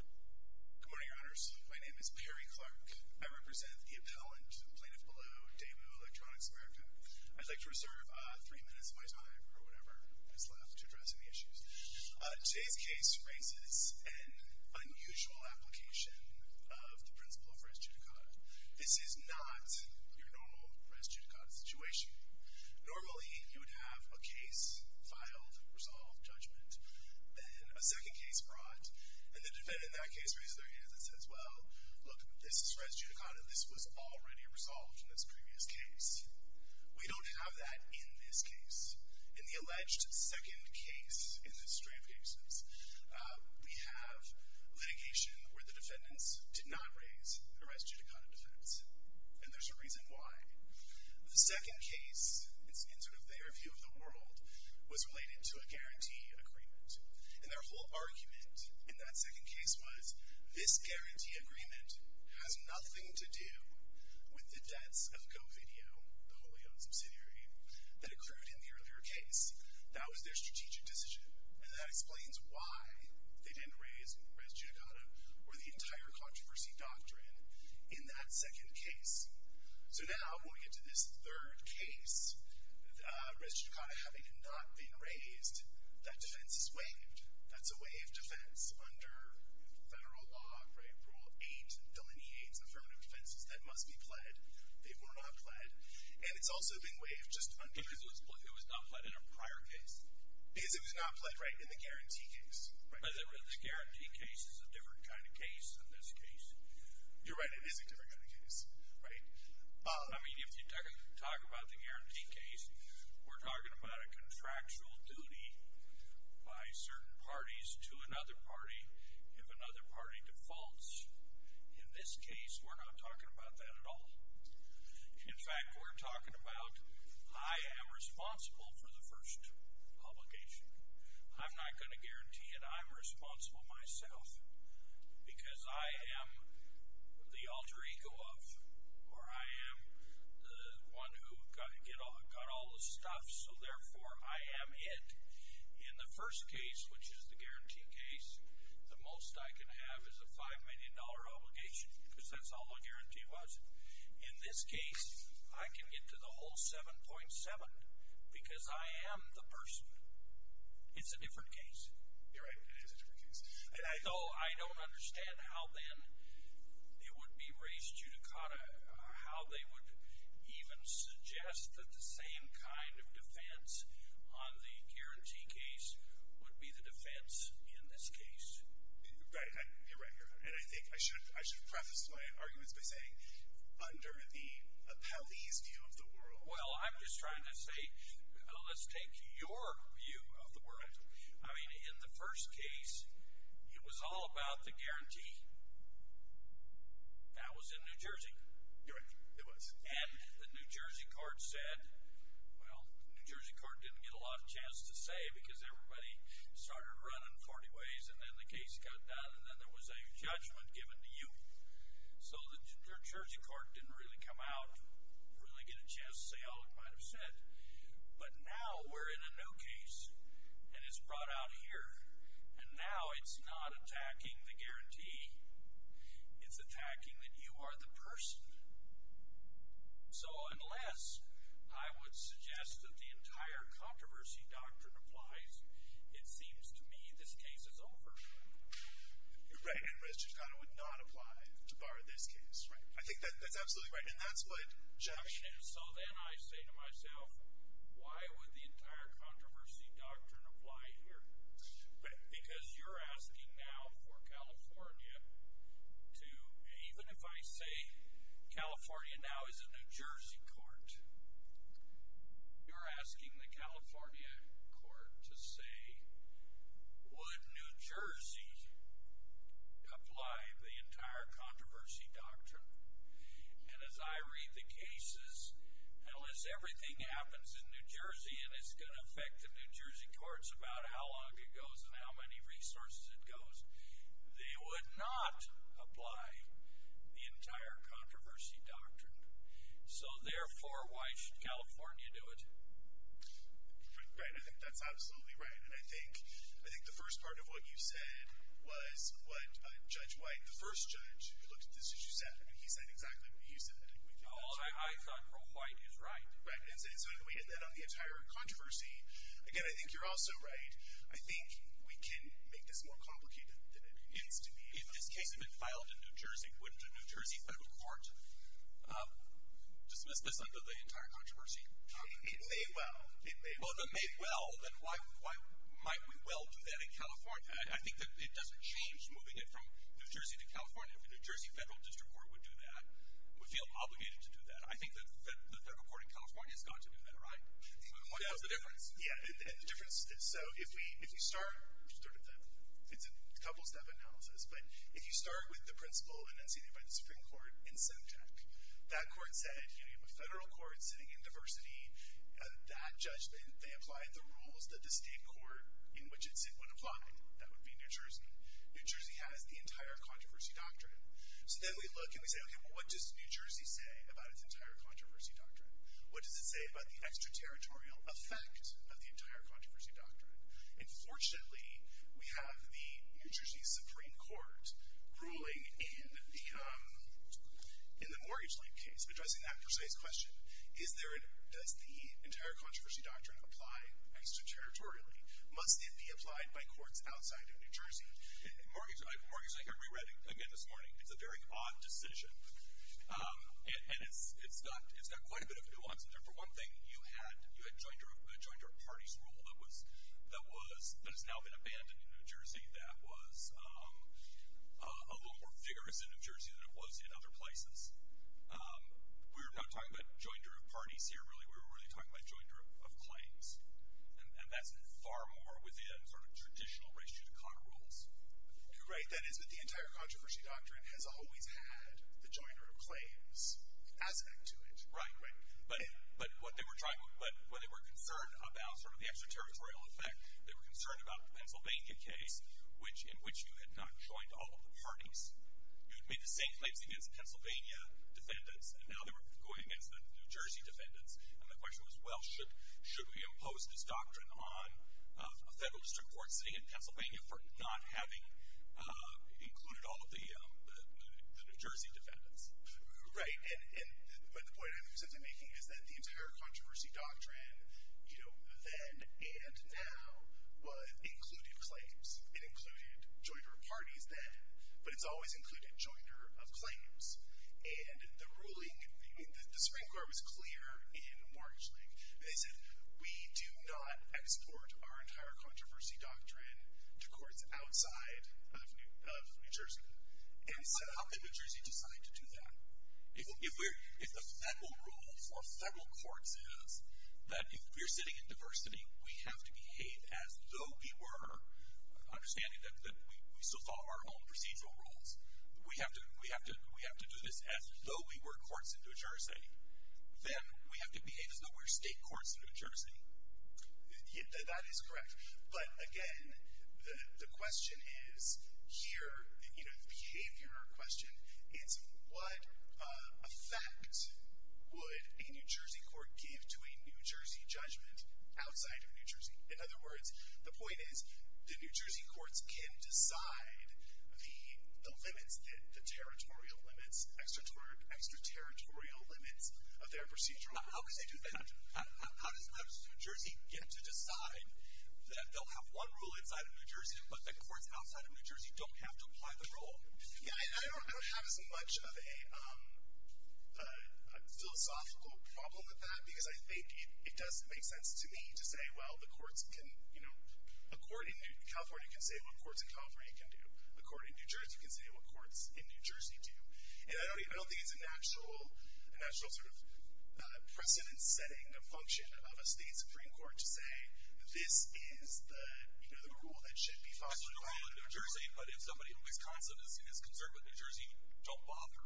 Good morning, Your Honors. My name is Perry Clark. I represent the appellant, Plaintiff Ballew, Daewoo Electronics America. I'd like to reserve three minutes of my time or whatever is left to address any issues. Today's case raises an unusual application of the principle of res judicata. This is not your normal res judicata situation. Normally, you would have a case filed, resolved, judgment, then a second case brought, and the defendant in that case raises their hand and says, well, look, this is res judicata. This was already resolved in this previous case. We don't have that in this case. In the alleged second case in this string of cases, we have litigation where the defendants did not raise their res judicata defense. And there's a reason why. The second case, in sort of their view of the world, was related to a guarantee agreement. And their whole argument in that second case was, this guarantee agreement has nothing to do with the debts of GoVideo, the wholly owned subsidiary that accrued in the earlier case. That was their strategic decision. And that explains why they didn't raise res judicata or the entire controversy doctrine in that second case. So now when we get to this third case, res judicata having not been raised, that defense is waived. That's a waived defense under federal law, rule of eight delineates in front of defenses that must be pled. They were not pled. And it's also been waived just under- Because it was not pled in a prior case. Because it was not pled, right, in the guarantee case. But the guarantee case is a different kind of case than this case. You're right. It is a different kind of case. Right? I mean, if you talk about the guarantee case, we're talking about a contractual duty by certain parties to another party if another party defaults. In this case, we're not talking about that at all. In fact, we're talking about I am responsible for the first publication. I'm not going to guarantee it. I am responsible myself because I am the alter ego of or I am the one who got all the stuff, so therefore I am it. In the first case, which is the guarantee case, the most I can have is a $5 million obligation because that's all the guarantee was. In this case, I can get to the whole 7.7 because I am the person. It's a different case. You're right. It is a different case. So I don't understand how then it would be race judicata, how they would even suggest that the same kind of defense on the guarantee case would be the defense in this case. Right. You're right. And I think I should preface my arguments by saying under the appellee's view of the world. Well, I'm just trying to say let's take your view of the world. I mean, in the first case, it was all about the guarantee. That was in New Jersey. You're right. It was. And the New Jersey court said, well, the New Jersey court didn't get a lot of chance to say because everybody started running 40 ways and then the case got done and then there was a judgment given to you. So the New Jersey court didn't really come out, really get a chance to say all it might have said. But now we're in a new case and it's brought out here, and now it's not attacking the guarantee. It's attacking that you are the person. So unless I would suggest that the entire controversy doctrine applies, it seems to me this case is over. You're right. And Res. Chicano would not apply to bar this case. Right. I think that's absolutely right. And that's what Jackson is. So then I say to myself, why would the entire controversy doctrine apply here? Right. Because you're asking now for California to – even if I say California now is a New Jersey court, you're asking the California court to say, would New Jersey apply the entire controversy doctrine? And as I read the cases, unless everything happens in New Jersey and it's going to affect the New Jersey courts about how long it goes and how many resources it goes, they would not apply the entire controversy doctrine. So, therefore, why should California do it? Right. I think that's absolutely right. And I think the first part of what you said was what Judge White, the first judge who looked at this issue, said. I mean, he said exactly what you said. All that I thought from White is right. Right. And so then on the entire controversy, again, I think you're also right. I think we can make this more complicated than it needs to be. If this case had been filed in New Jersey, wouldn't a New Jersey federal court dismiss this under the entire controversy doctrine? It may well. Well, if it may well, then why might we well do that in California? I think that it doesn't change moving it from New Jersey to California. If a New Jersey federal district court would do that, we feel obligated to do that. I think that the federal court in California has got to do that, right? What is the difference? Yeah. The difference is, so if you start – it's a couple-step analysis. But if you start with the principle enunciated by the Supreme Court in Semtec, that court said, you know, you have a federal court sitting in diversity. That judge, they applied the rules that the state court in which it would sit would apply. That would be New Jersey. New Jersey has the entire controversy doctrine. So then we look and we say, okay, well, what does New Jersey say about its entire controversy doctrine? What does it say about the extraterritorial effect of the entire controversy doctrine? And fortunately, we have the New Jersey Supreme Court ruling in the mortgage-linked case addressing that precise question. Does the entire controversy doctrine apply extraterritorially? Must it be applied by courts outside of New Jersey? Mortgage-linked, I reread it again this morning. It's a very odd decision. And it's got quite a bit of nuance in there. For one thing, you had a joinder of parties rule that has now been abandoned in New Jersey that was a little more vigorous in New Jersey than it was in other places. We're not talking about joinder of parties here, really. We're really talking about joinder of claims. And that's far more within sort of traditional race-judicata rules. Right. That is that the entire controversy doctrine has always had the joinder of claims aspect to it. Right, right. But when they were concerned about sort of the extraterritorial effect, they were concerned about the Pennsylvania case in which you had not joined all of the parties. You had made the same claims against Pennsylvania defendants, and now they were going against the New Jersey defendants. And the question was, well, should we impose this doctrine on a federal district court sitting in Pennsylvania for not having included all of the New Jersey defendants? Right. And the point I'm essentially making is that the entire controversy doctrine, you know, then and now included claims. It included joinder of parties then, but it's always included joinder of claims. And the ruling, the Supreme Court was clear in March, like, they said, we do not export our entire controversy doctrine to courts outside of New Jersey. And so how did New Jersey decide to do that? If the federal rule for federal courts is that if we're sitting in diversity, we have to behave as though we were, understanding that we still follow our own procedural rules, we have to do this as though we were courts in New Jersey, then we have to behave as though we're state courts in New Jersey. That is correct. But, again, the question is here, you know, the behavior question, it's what effect would a New Jersey court give to a New Jersey judgment outside of New Jersey? In other words, the point is the New Jersey courts can decide the limits, the territorial limits, extraterritorial limits of their procedural rules. How does New Jersey get to decide that they'll have one rule inside of New Jersey but the courts outside of New Jersey don't have to apply the rule? Yeah, I don't have as much of a philosophical problem with that because I think it does make sense to me to say, well, the courts can, you know, a court in California can say what courts in California can do. A court in New Jersey can say what courts in New Jersey do. And I don't think it's an actual sort of precedent-setting function of a state Supreme Court to say this is the rule that should be followed in New Jersey, but if somebody in Wisconsin is concerned with New Jersey, don't bother.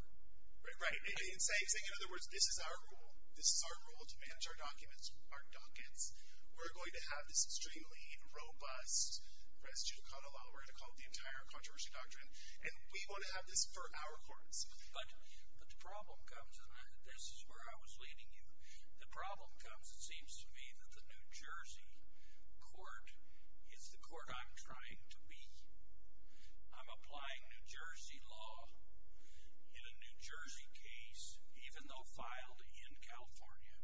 Right. In other words, this is our rule. This is our rule to manage our documents, our dockets. We're going to have this extremely robust res judicata law. We're going to call it the entire controversy doctrine. And we want to have this for our courts. But the problem comes, and this is where I was leading you, the problem comes, it seems to me, that the New Jersey court is the court I'm trying to be. I'm applying New Jersey law in a New Jersey case, even though filed in California.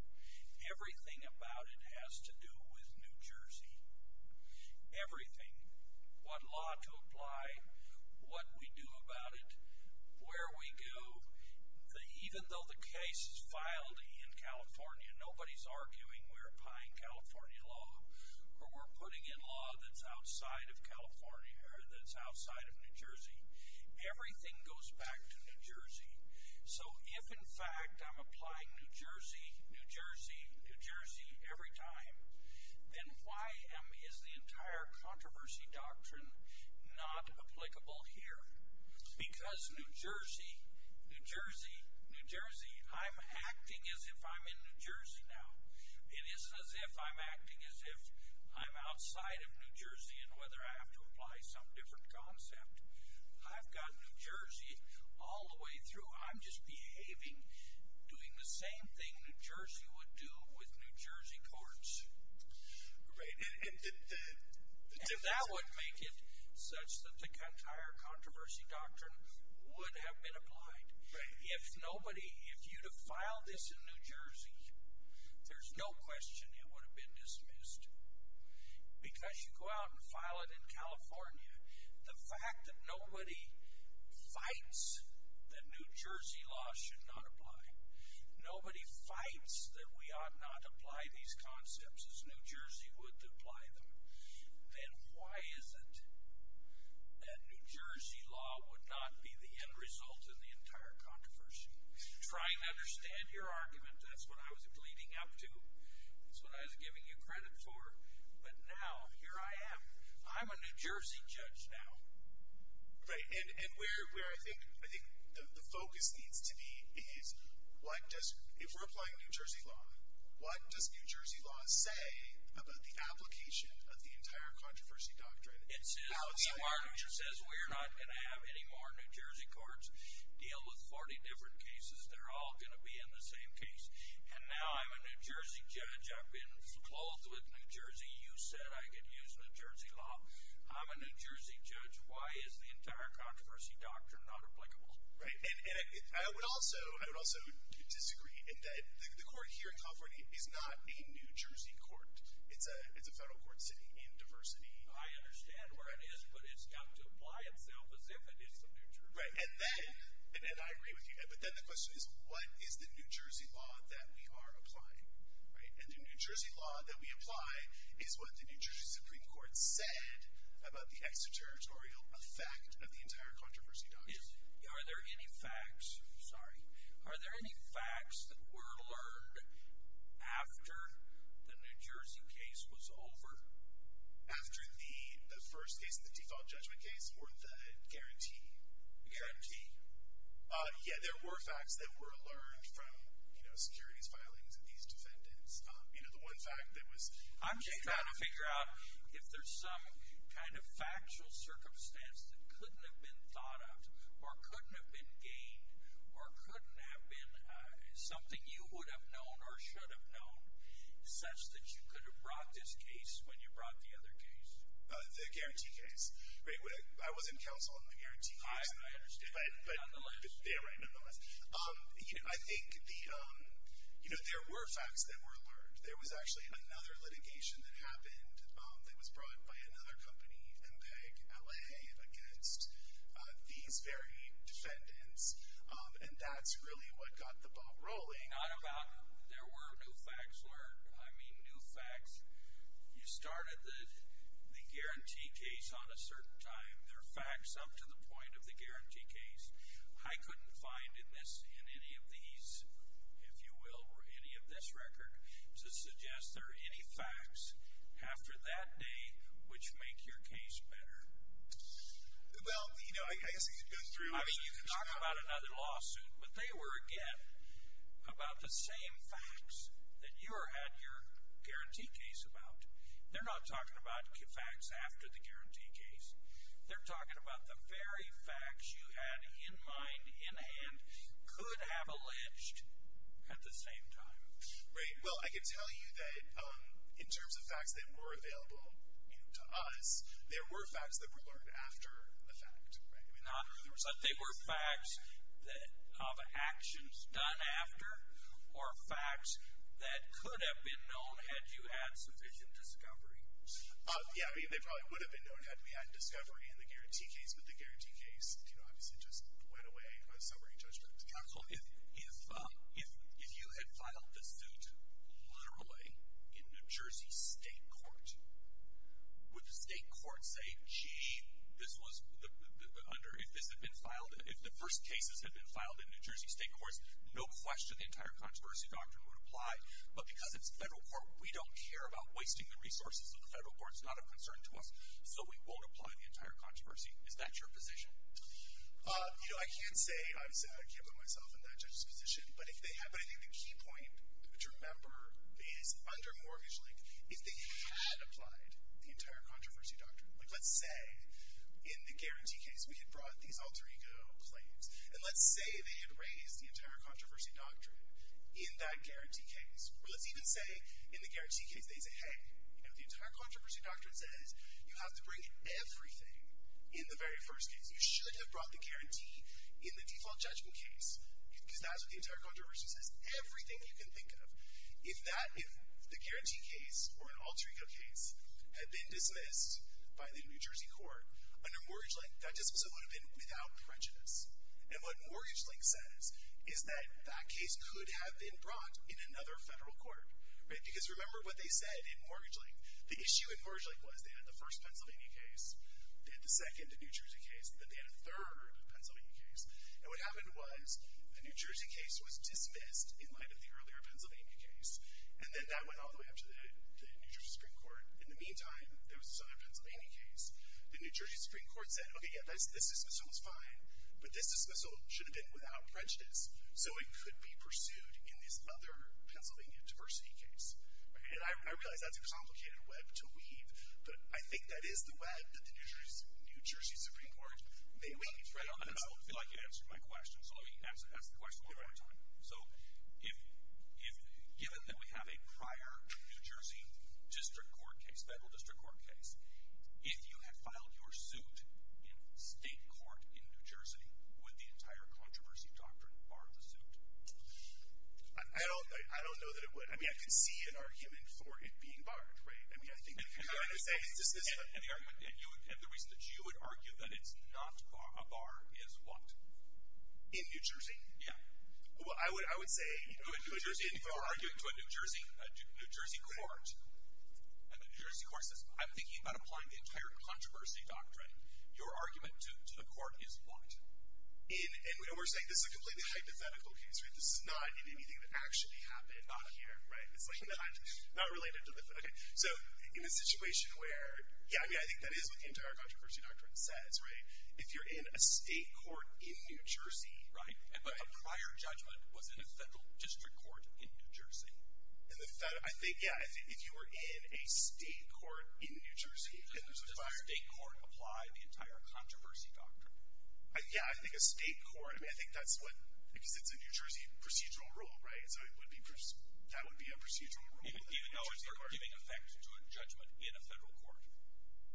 Everything about it has to do with New Jersey. Everything. What law to apply, what we do about it, where we go. Even though the case is filed in California, nobody's arguing we're applying California law or we're putting in law that's outside of California or that's outside of New Jersey. Everything goes back to New Jersey. So if, in fact, I'm applying New Jersey, New Jersey, New Jersey every time, then why is the entire controversy doctrine not applicable here? Because New Jersey, New Jersey, New Jersey, I'm acting as if I'm in New Jersey now. It isn't as if I'm acting as if I'm outside of New Jersey and whether I have to apply some different concept. I've got New Jersey all the way through. I'm just behaving, doing the same thing New Jersey would do with New Jersey courts. And that would make it such that the entire controversy doctrine would have been applied. If nobody, if you'd have filed this in New Jersey, there's no question it would have been dismissed. Because you go out and file it in California, the fact that nobody fights that New Jersey law should not apply, nobody fights that we ought not apply these concepts as New Jersey would apply them, then why is it that New Jersey law would not be the end result in the entire controversy? Try and understand your argument. That's what I was leading up to. That's what I was giving you credit for. But now, here I am. I'm a New Jersey judge now. Right. And where I think the focus needs to be is what does, if we're applying New Jersey law, what does New Jersey law say about the application of the entire controversy doctrine? It says, the market says we're not going to have any more New Jersey courts deal with 40 different cases. They're all going to be in the same case. And now I'm a New Jersey judge. I've been clothed with New Jersey. You said I could use New Jersey law. I'm a New Jersey judge. Why is the entire controversy doctrine not applicable? Right. And I would also disagree in that the court here in California is not a New Jersey court. It's a federal court sitting in diversity. I understand where it is, but it's got to apply itself as if it is the New Jersey court. Right. And then, and I agree with you, but then the question is what is the New Jersey law that we are applying? Right. And the New Jersey law that we apply is what the New Jersey Supreme Court said about the extraterritorial effect of the entire controversy doctrine. Are there any facts, sorry, are there any facts that were learned after the New Jersey case was over? After the first case, the default judgment case or the guarantee? Guarantee. Yeah, there were facts that were learned from, you know, securities filings of these defendants. You know, the one fact that was. I'm just trying to figure out if there's some kind of factual circumstance that couldn't have been thought of or couldn't have been gained or couldn't have been something you would have known or should have known such that you could have brought this case when you brought the other case. The guarantee case. Right. I wasn't counsel on the guarantee case. I understand. But. Nonetheless. Yeah, right, nonetheless. You know, I think the, you know, there were facts that were learned. There was actually another litigation that happened that was brought by another company, MPEG LA, against these very defendants, and that's really what got the ball rolling. Not about there were new facts learned. I mean, new facts. You started the guarantee case on a certain time. There are facts up to the point of the guarantee case. I couldn't find in this, in any of these, if you will, or any of this record, to suggest there are any facts after that day which make your case better. Well, you know, I guess you could go through. I mean, you could talk about another lawsuit, but they were, again, about the same facts that you had your guarantee case about. They're not talking about facts after the guarantee case. They're talking about the very facts you had in mind, in hand, could have alleged at the same time. Right. Well, I could tell you that in terms of facts that were available, you know, to us, there were facts that were learned after the fact. Right. There were facts of actions done after, or facts that could have been known had you had sufficient discovery. Yeah. I mean, they probably would have been known had we had discovery in the guarantee case, but the guarantee case, you know, obviously just went away by the summary judgment. Absolutely. If you had filed the suit literally in New Jersey State Court, would the state court say, gee, this was under, if this had been filed, if the first cases had been filed in New Jersey State Courts, no question the entire controversy doctrine would apply, but because it's federal court, we don't care about wasting the resources of the federal court. It's not of concern to us, so we won't apply the entire controversy. Is that your position? You know, I can't say. I can't put myself in that judge's position, but if they had, but I think the key point to remember is under mortgage link, if they had applied the entire controversy doctrine, like let's say in the guarantee case, we had brought these alter ego claims and let's say they had raised the entire controversy doctrine in that guarantee case, or let's even say in the guarantee case, they say, Hey, you know, the entire controversy doctrine says you have to bring everything in the very first case. You should have brought the guarantee in the default judgment case because that's what the entire controversy says. Everything you can think of. If that, if the guarantee case or an alter ego case had been dismissed by the New Jersey court under mortgage link, that just so would have been without prejudice. And what mortgage link says is that that case could have been brought in another federal court, right? Because remember what they said in mortgage link, the issue in mortgage link was they had the first Pennsylvania case, they had the second New Jersey case, and then they had a third Pennsylvania case. And what happened was the New Jersey case was dismissed in light of the earlier Pennsylvania case. And then that went all the way up to the New Jersey Supreme Court. In the meantime, there was this other Pennsylvania case. The New Jersey Supreme Court said, okay, yeah, this dismissal is fine, but this dismissal should have been without prejudice. So it could be pursued in this other Pennsylvania diversity case. And I realize that's a complicated web to weave, but I think that is the web that the New Jersey Supreme Court may weave. I feel like you answered my question. So let me ask the question one more time. So given that we have a prior New Jersey district court case, federal district court case, if you had filed your suit in state court in New Jersey, would the entire controversy doctrine bar the suit? I don't know that it would. I mean, I can see an argument for it being barred, right? And the reason that you would argue that it's not a bar is what? In New Jersey? Yeah. Well, I would say, you know, in New Jersey, if you're arguing to a New Jersey court, and the New Jersey court says, I'm thinking about applying the entire controversy doctrine, your argument to the court is what? And we're saying this is a completely hypothetical case, right? This is not in anything that actually happened out here, right? It's, like, not related to the court. So in a situation where, yeah, I mean, I think that is what the entire controversy doctrine says, right? If you're in a state court in New Jersey, Right, but a prior judgment was in a federal district court in New Jersey. I think, yeah, if you were in a state court in New Jersey, Does a state court apply the entire controversy doctrine? Yeah, I think a state court, I mean, I think that's what, because it's a New Jersey procedural rule, right? So that would be a procedural rule. Even though it's giving effect to a judgment in a federal court.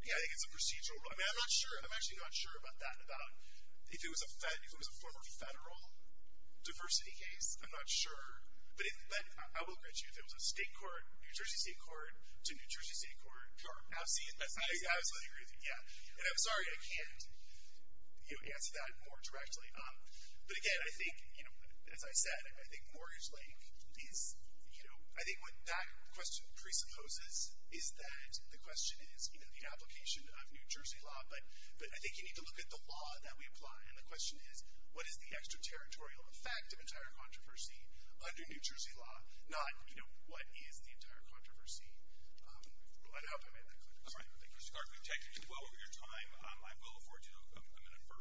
Yeah, I think it's a procedural rule. I mean, I'm not sure, I'm actually not sure about that, about if it was a form of federal diversity case. I'm not sure, but I will agree with you, if it was a state court, New Jersey state court, to New Jersey state court. I absolutely agree with you, yeah. And I'm sorry I can't, you know, answer that more directly. But again, I think, you know, as I said, I think mortgage length is, you know, I think what that question presupposes is that the question is, you know, the application of New Jersey law. But I think you need to look at the law that we apply. And the question is, what is the extraterritorial effect of entire controversy under New Jersey law, not, you know, what is the entire controversy. I hope I made that clear. All right, thank you, Mr. Clark. We've taken too little of your time. I will afford you a minute for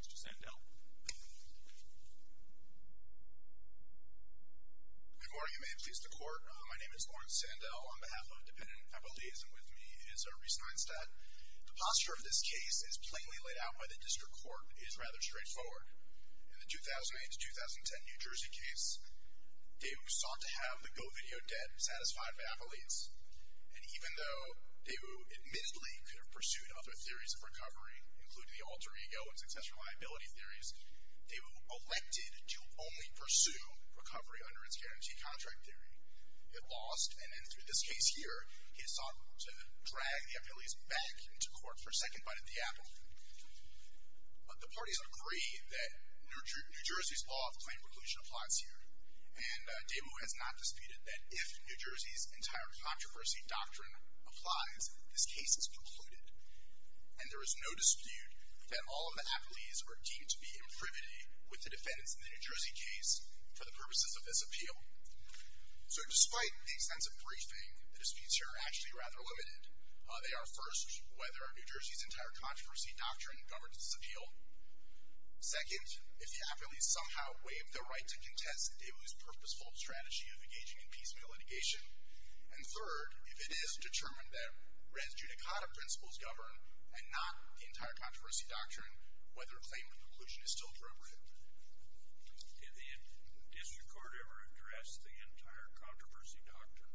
Mr. Sandell. Good morning. May it please the Court. My name is Lawrence Sandell. On behalf of Dependent Appellate Liaison with me is Reese Neinstadt. The posture of this case is plainly laid out by the district court. It is rather straightforward. In the 2008 to 2010 New Jersey case, DeWu sought to have the GoVideo debt satisfied by appellates. And even though DeWu admittedly could have pursued other theories of recovery, including the alter ego and successful liability theories, DeWu elected to only pursue recovery under its guarantee contract theory. It lost, and in this case here, he sought to drag the appellates back into court for a second bite at the apple. But the parties agree that New Jersey's law of claim reclusion applies here. And DeWu has not disputed that if New Jersey's entire controversy doctrine applies, this case is concluded. And there is no dispute that all of the appellates are deemed to be in frivolity with the defendants in the New Jersey case for the purposes of this appeal. So despite the extensive briefing the disputes here are actually rather limited. They are first, whether New Jersey's entire controversy doctrine governs this appeal. Second, if the appellates somehow waive their right to contest DeWu's purposeful strategy of engaging in piecemeal litigation. And third, if it is determined that res judicata principles govern and not the entire controversy doctrine, whether claim reclusion is still appropriate. Did the district court ever address the entire controversy doctrine?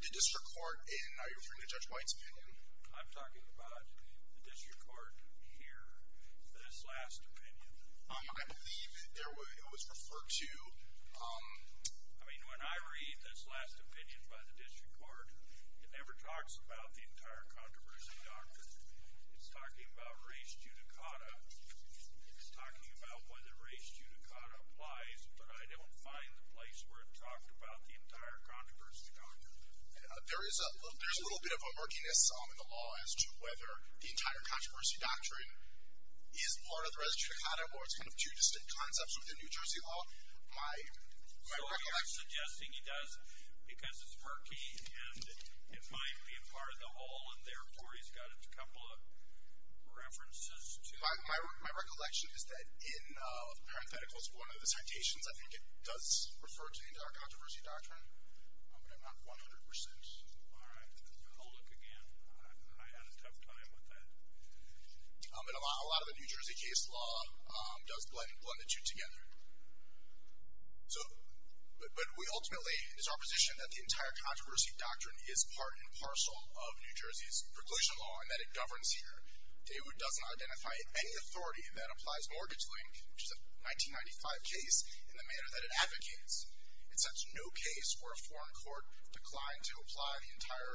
The district court, and are you referring to Judge White's opinion? I'm talking about the district court here, this last opinion. Um, I believe it was referred to, um... I mean, when I read this last opinion by the district court, it never talks about the entire controversy doctrine. It's talking about res judicata. It's talking about whether res judicata applies, but I don't find the place where it talked about the entire controversy doctrine. There is a little bit of a murkiness in the law as to whether the entire controversy doctrine is part of the res judicata or it's kind of two distinct concepts within New Jersey law. My recollection... So he's suggesting he does because it's murky and it might be a part of the whole, and therefore he's got a couple of references to... My recollection is that in, uh, one of the citations, I think it does refer to the entire controversy doctrine, but I'm not 100%. All right. I'll look again. I had a tough time with that. Um, and a lot of the New Jersey case law does blend the two together. So... But we ultimately, it's our position that the entire controversy doctrine is part and parcel of New Jersey's preclusion law and that it governs here. David does not identify any authority that applies mortgage-link, which is a 1995 case, in the manner that it advocates. It sets no case where a foreign court declined to apply the entire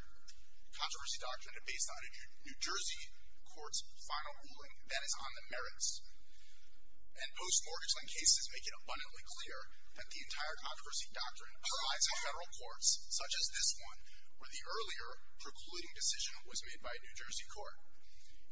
controversy doctrine based on a New Jersey court's final ruling that is on the merits. And post-mortgage-link cases make it abundantly clear that the entire controversy doctrine applies to federal courts, such as this one, where the earlier precluding decision was made by a New Jersey court.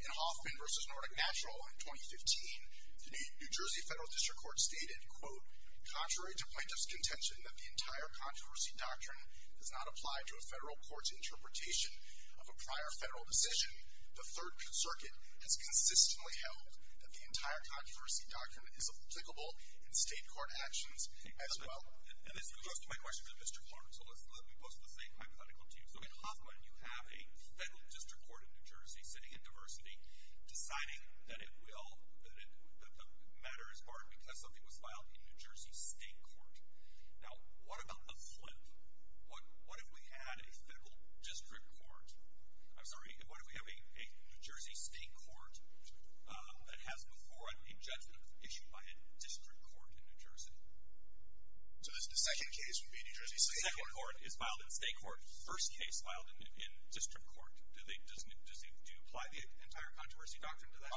In Hoffman v. Nordic Natural in 2015, the New Jersey federal district court stated, quote, contrary to plaintiff's contention that the entire controversy doctrine does not apply to a federal court's interpretation of a prior federal decision, the Third Circuit has consistently held that the entire controversy doctrine is applicable in state court actions as well. And this goes to my question to Mr. Clark. So let me pose the same hypothetical to you. So in Hoffman, you have a federal district court in New Jersey sitting in diversity, deciding that it will... that the matter is pardoned because something was filed in New Jersey state court. Now, what about the flip? What if we had a federal district court? I'm sorry, what if we have a New Jersey state court that has before it a judgment issued by a district court in New Jersey? So the second case would be New Jersey state court? The second court is filed in state court. First case filed in district court. Do you apply the entire controversy doctrine to that?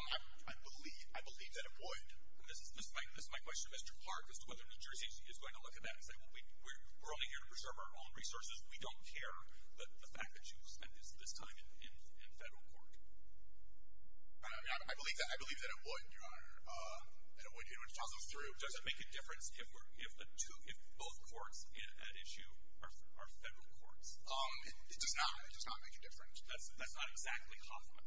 I believe that it would. And this is my question to Mr. Clark as to whether New Jersey is going to look at that and say, well, we're only here to preserve our own resources. We don't care that the fact that you spent this time in federal court. I believe that it would, Your Honor. It would toss us through. Does it make a difference if both courts at issue are federal courts? It does not make a difference. That's not exactly Hoffman.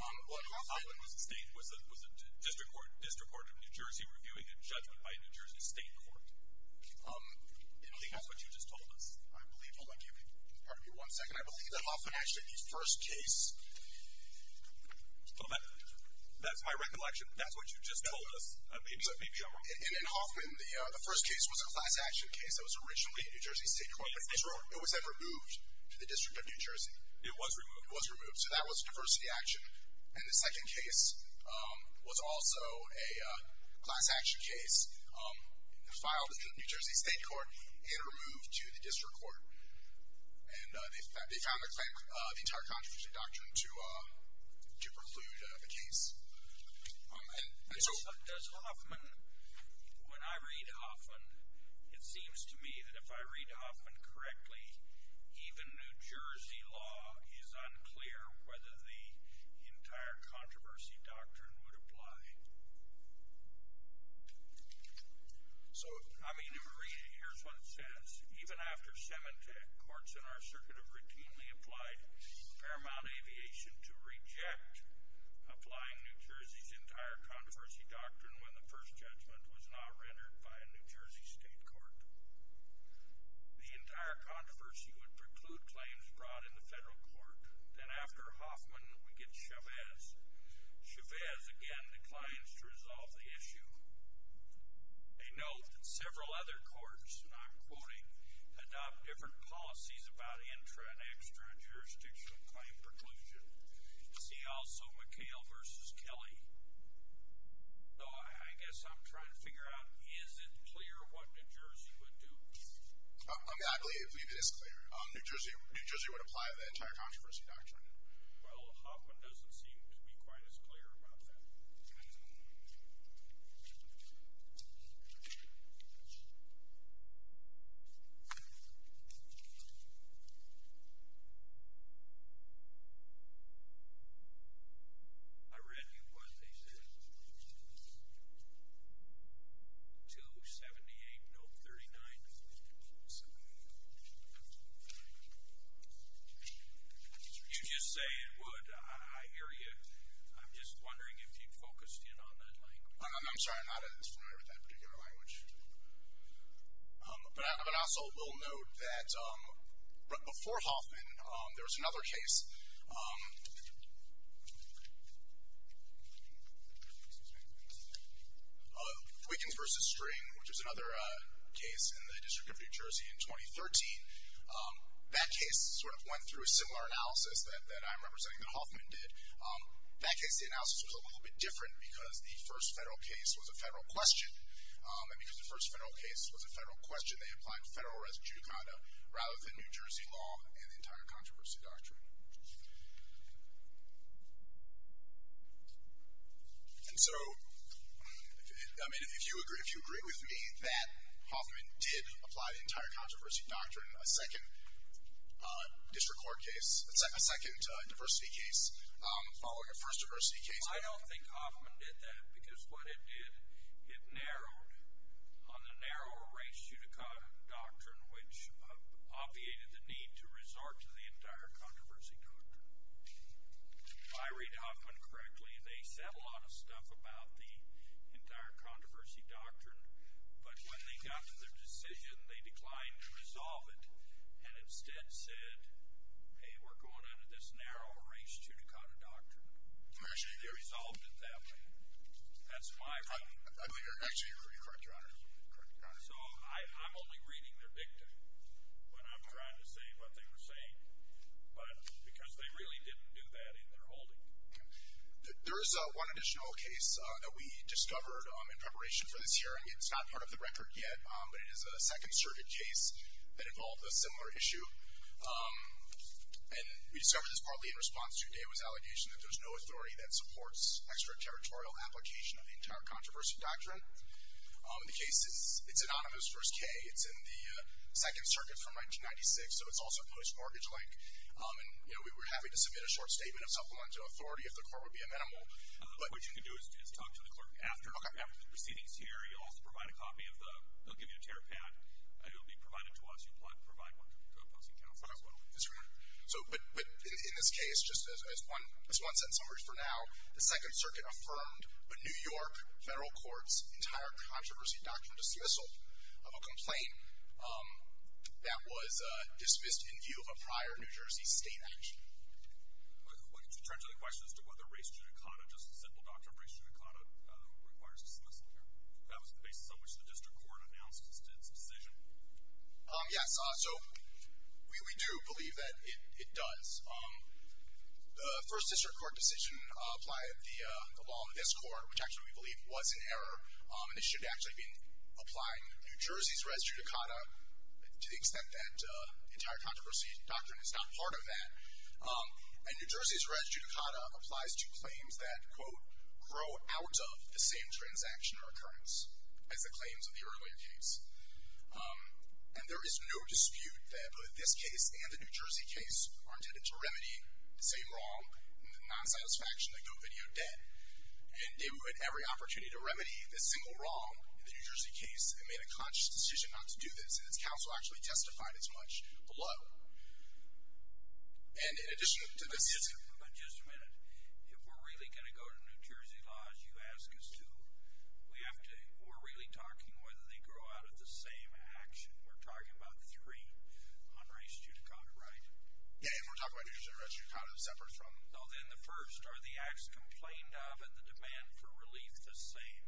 Hoffman was a district court in New Jersey reviewing a judgment by a New Jersey state court. I believe that's what you just told us. I believe, oh, I can't hear part of you. One second, I believe that Hoffman actually, the first case... That's my recollection. That's what you just told us. Maybe I'm wrong. In Hoffman, the first case was a class action case that was originally a New Jersey state court. It was then removed to the District of New Jersey. It was removed. It was removed, so that was the first reaction. And the second case was also a class action case filed in the New Jersey state court and removed to the district court. And they found the entire contradiction doctrine to preclude the case. Does Hoffman, when I read Hoffman, it seems to me that if I read Hoffman correctly, even New Jersey law is unclear whether the entire controversy doctrine would apply. So, I mean, here's what it says. Even after Semantec, courts in our circuit have routinely applied Paramount Aviation to reject applying New Jersey's entire controversy doctrine when the first judgment was not rendered by a New Jersey state court. The entire controversy would preclude claims brought in the federal court. Then after Hoffman, we get Chavez. Chavez, again, declines to resolve the issue. A note that several other courts, and I'm quoting, adopt different policies about intra- and extra-jurisdictional claim preclusion. See also McHale v. Kelly. So I guess I'm trying to figure out, is it clear what New Jersey would do? I believe it is clear. New Jersey would apply the entire controversy doctrine. Well, Hoffman doesn't seem to be quite as clear about that. I don't know. I read you what they said. 278, no, 39. You just say it would. I hear you. I'm just wondering if you focused in on that language. I'm sorry, I'm not familiar with that particular language. But I also will note that before Hoffman, there was another case. Wiggins v. String, which was another case in the District of New Jersey in 2013. That case sort of went through a similar analysis that I'm representing that Hoffman did. That case, the analysis was a little bit different because the first federal case was a federal question. And because the first federal case was a federal question, they applied federal res judicata rather than New Jersey law and the entire controversy doctrine. And so, I mean, if you agree with me that Hoffman did apply the entire controversy doctrine, in a second district court case, a second diversity case, following a first diversity case. I don't think Hoffman did that because what it did, it narrowed on the narrow res judicata doctrine, which obviated the need to resort to the entire controversy doctrine. If I read Hoffman correctly, they said a lot of stuff about the entire controversy doctrine, but when they got to their decision, they declined to resolve it and instead said, hey, we're going under this narrow res judicata doctrine. They resolved it that way. That's my point. I believe you're actually correct, Your Honor. So I'm only reading their victim when I'm trying to say what they were saying. But because they really didn't do that in their holding. There is one additional case that we discovered in preparation for this hearing. It's not part of the record yet, but it is a Second Circuit case that involved a similar issue. And we discovered this partly in response to Dava's allegation that there's no authority that supports extraterritorial application of the entire controversy doctrine. The case is anonymous, verse K. It's in the Second Circuit from 1996, so it's also post-mortgage-like. We're happy to submit a short statement of supplemental authority if the court would be amenable. What you can do is talk to the clerk after the proceedings here. He'll also provide a copy of the... he'll give you a tear pad. It'll be provided to us. You'll provide one to a posting counselor as well. But in this case, just as one-sentence summary for now, the Second Circuit affirmed the New York federal court's entire controversy doctrine dismissal of a complaint that was dismissed in view of a prior New Jersey state action. Would you turn to the question as to whether race judicata, just a simple doctrine of race judicata, requires dismissal here? That was the basis on which the district court announced its decision. Yes, so we do believe that it does. The first district court decision applied the law in this court, which actually we believe was in error, and it should have actually been applying New Jersey's race judicata to the extent that the entire controversy doctrine is not part of that. And New Jersey's race judicata applies to claims that, quote, grow out of the same transaction or occurrence as the claims of the earlier case. And there is no dispute that both this case and the New Jersey case are intended to remedy the same wrong and the nonsatisfaction that GoVideo did. And it would every opportunity to remedy this single wrong in the New Jersey case and made a conscious decision not to do this, and its counsel actually testified as much below. And in addition to this... But just a minute. If we're really going to go to New Jersey laws, you ask us to. We're really talking whether they grow out of the same action. We're talking about three on race judicata, right? Yeah, and we're talking about New Jersey race judicata that separates from... No, then the first. Are the acts complained of and the demand for relief the same?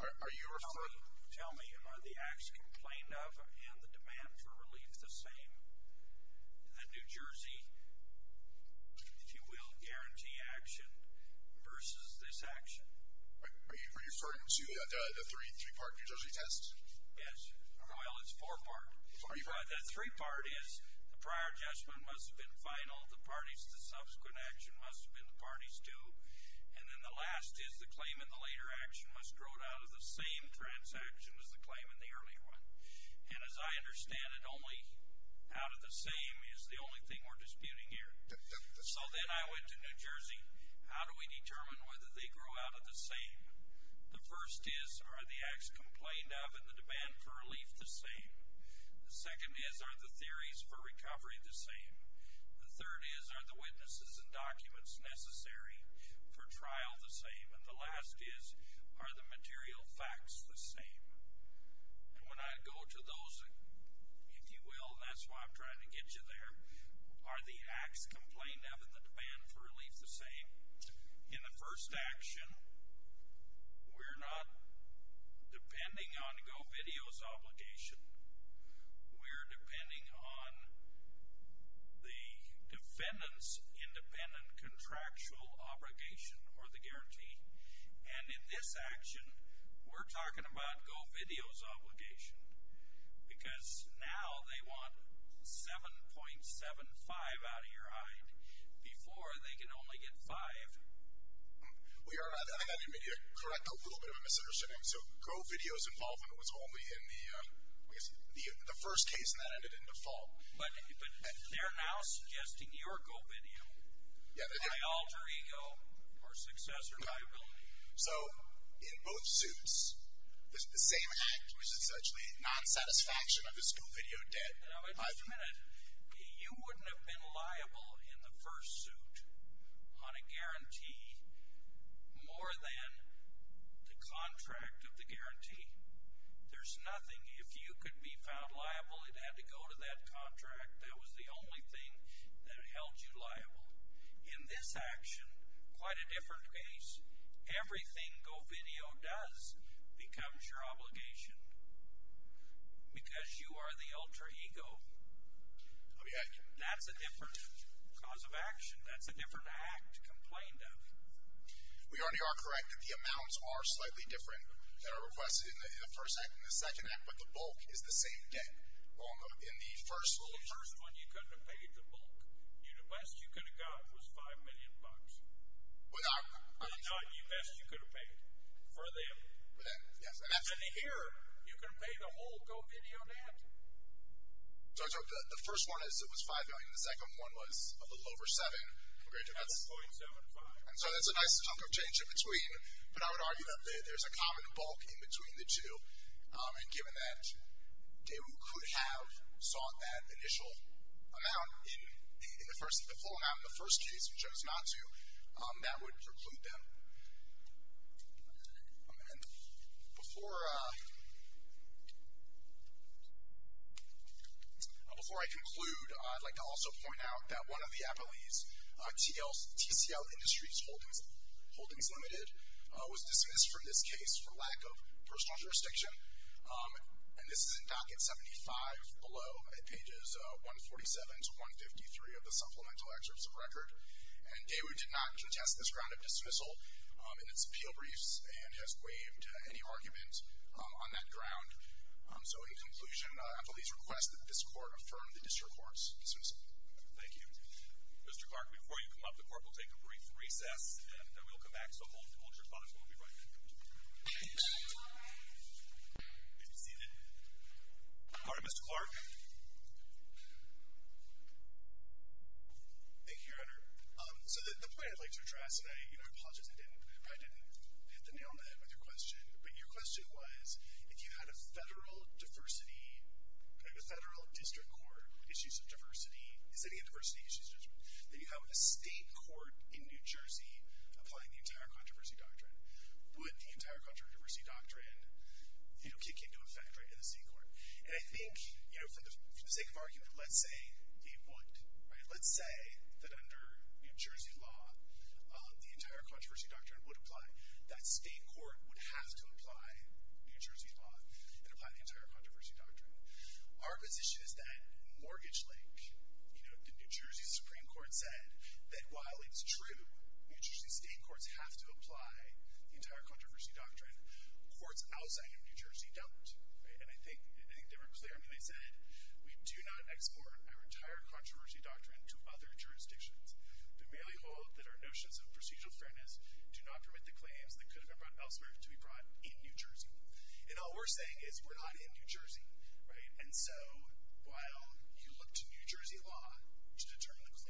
Are you referring... Tell me. Are the acts complained of and the demand for relief the same? The New Jersey, if you will, guarantee action versus this action. Are you referring to the three-part New Jersey test? Yes. Well, it's four-part. The three-part is the prior judgment must have been final, the parties to the subsequent action must have been the parties to, and then the last is the claim in the later action must grow out of the same transaction as the claim in the earlier one. And as I understand it, only out of the same is the only thing we're disputing here. So then I went to New Jersey. How do we determine whether they grow out of the same? The first is are the acts complained of and the demand for relief the same? The second is are the theories for recovery the same? The third is are the witnesses and documents necessary for trial the same? And the last is are the material facts the same? And when I go to those, if you will, and that's why I'm trying to get you there, are the acts complained of and the demand for relief the same? In the first action, we're not depending on GoVideo's obligation. We're depending on the defendant's independent contractual obligation or the guarantee. And in this action, we're talking about GoVideo's obligation because now they want $7.75 out of your hide before they can only get $5. I think I need to correct a little bit of a misunderstanding. So GoVideo's involvement was only in the first case, and that ended in default. But they're now suggesting you're GoVideo by alter ego or successor liability. So in both suits, the same act, which is actually non-satisfaction of his GoVideo debt. Now, wait a minute. You wouldn't have been liable in the first suit on a guarantee more than the contract of the guarantee. There's nothing. If you could be found liable, it had to go to that contract. That was the only thing that held you liable. In this action, quite a different case, everything GoVideo does becomes your obligation because you are the alter ego. That's a different cause of action. That's a different act complained of. We already are correct that the amounts are slightly different than are requested in the first act and the second act, but the bulk is the same debt in the first. Well, the first one you couldn't have paid the bulk. The best you could have got was $5 million. I'm sorry. Not the best you could have paid for them. For them, yes. And here, you can pay the whole GoVideo debt. So the first one was $5 million. The second one was a little over $7 million. That's .75. So that's a nice chunk of change in between. But I would argue that there's a common bulk in between the two. And given that they could have sought that initial amount in the full amount in the first case, which I was not to, that would preclude them. And before I conclude, I'd like to also point out that one of the Appleys, TCL Industries Holdings Limited, was dismissed from this case for lack of personal jurisdiction. And this is in docket 75 below at pages 147 to 153 of the supplemental excerpts of record. And Daewoo did not contest this ground of dismissal in its appeal briefs and has waived any argument on that ground. So, in conclusion, Appleys request that this court affirm the district court's dismissal. Thank you. Mr. Clark, before you come up, the court will take a brief recess, and then we'll come back. So hold your thoughts while we write that note. Thank you. If you're seated. All right, Mr. Clark. Thank you, Your Honor. So the point I'd like to address, and I apologize if I didn't hit the nail on the head with your question, but your question was, if you had a federal diversity, like a federal district court, issues of diversity, is any of diversity issues judgment, then you have a state court in New Jersey applying the entire controversy doctrine. Would the entire controversy doctrine, you know, kick into effect in the state court? And I think, you know, for the sake of argument, let's say it would. Right? Let's say that under New Jersey law, the entire controversy doctrine would apply. That state court would have to apply New Jersey law and apply the entire controversy doctrine. Our position is that in Mortgage Lake, you know, the New Jersey Supreme Court said that while it's true, New Jersey state courts have to apply the entire controversy doctrine, courts outside of New Jersey don't. Right? And I think they were clear. I mean, they said, we do not export our entire controversy doctrine to other jurisdictions. We merely hold that our notions of procedural fairness do not permit the claims that could have been brought elsewhere to be brought in New Jersey. And all we're saying is we're not in New Jersey. Right? And so while you look to New Jersey law to determine the claims,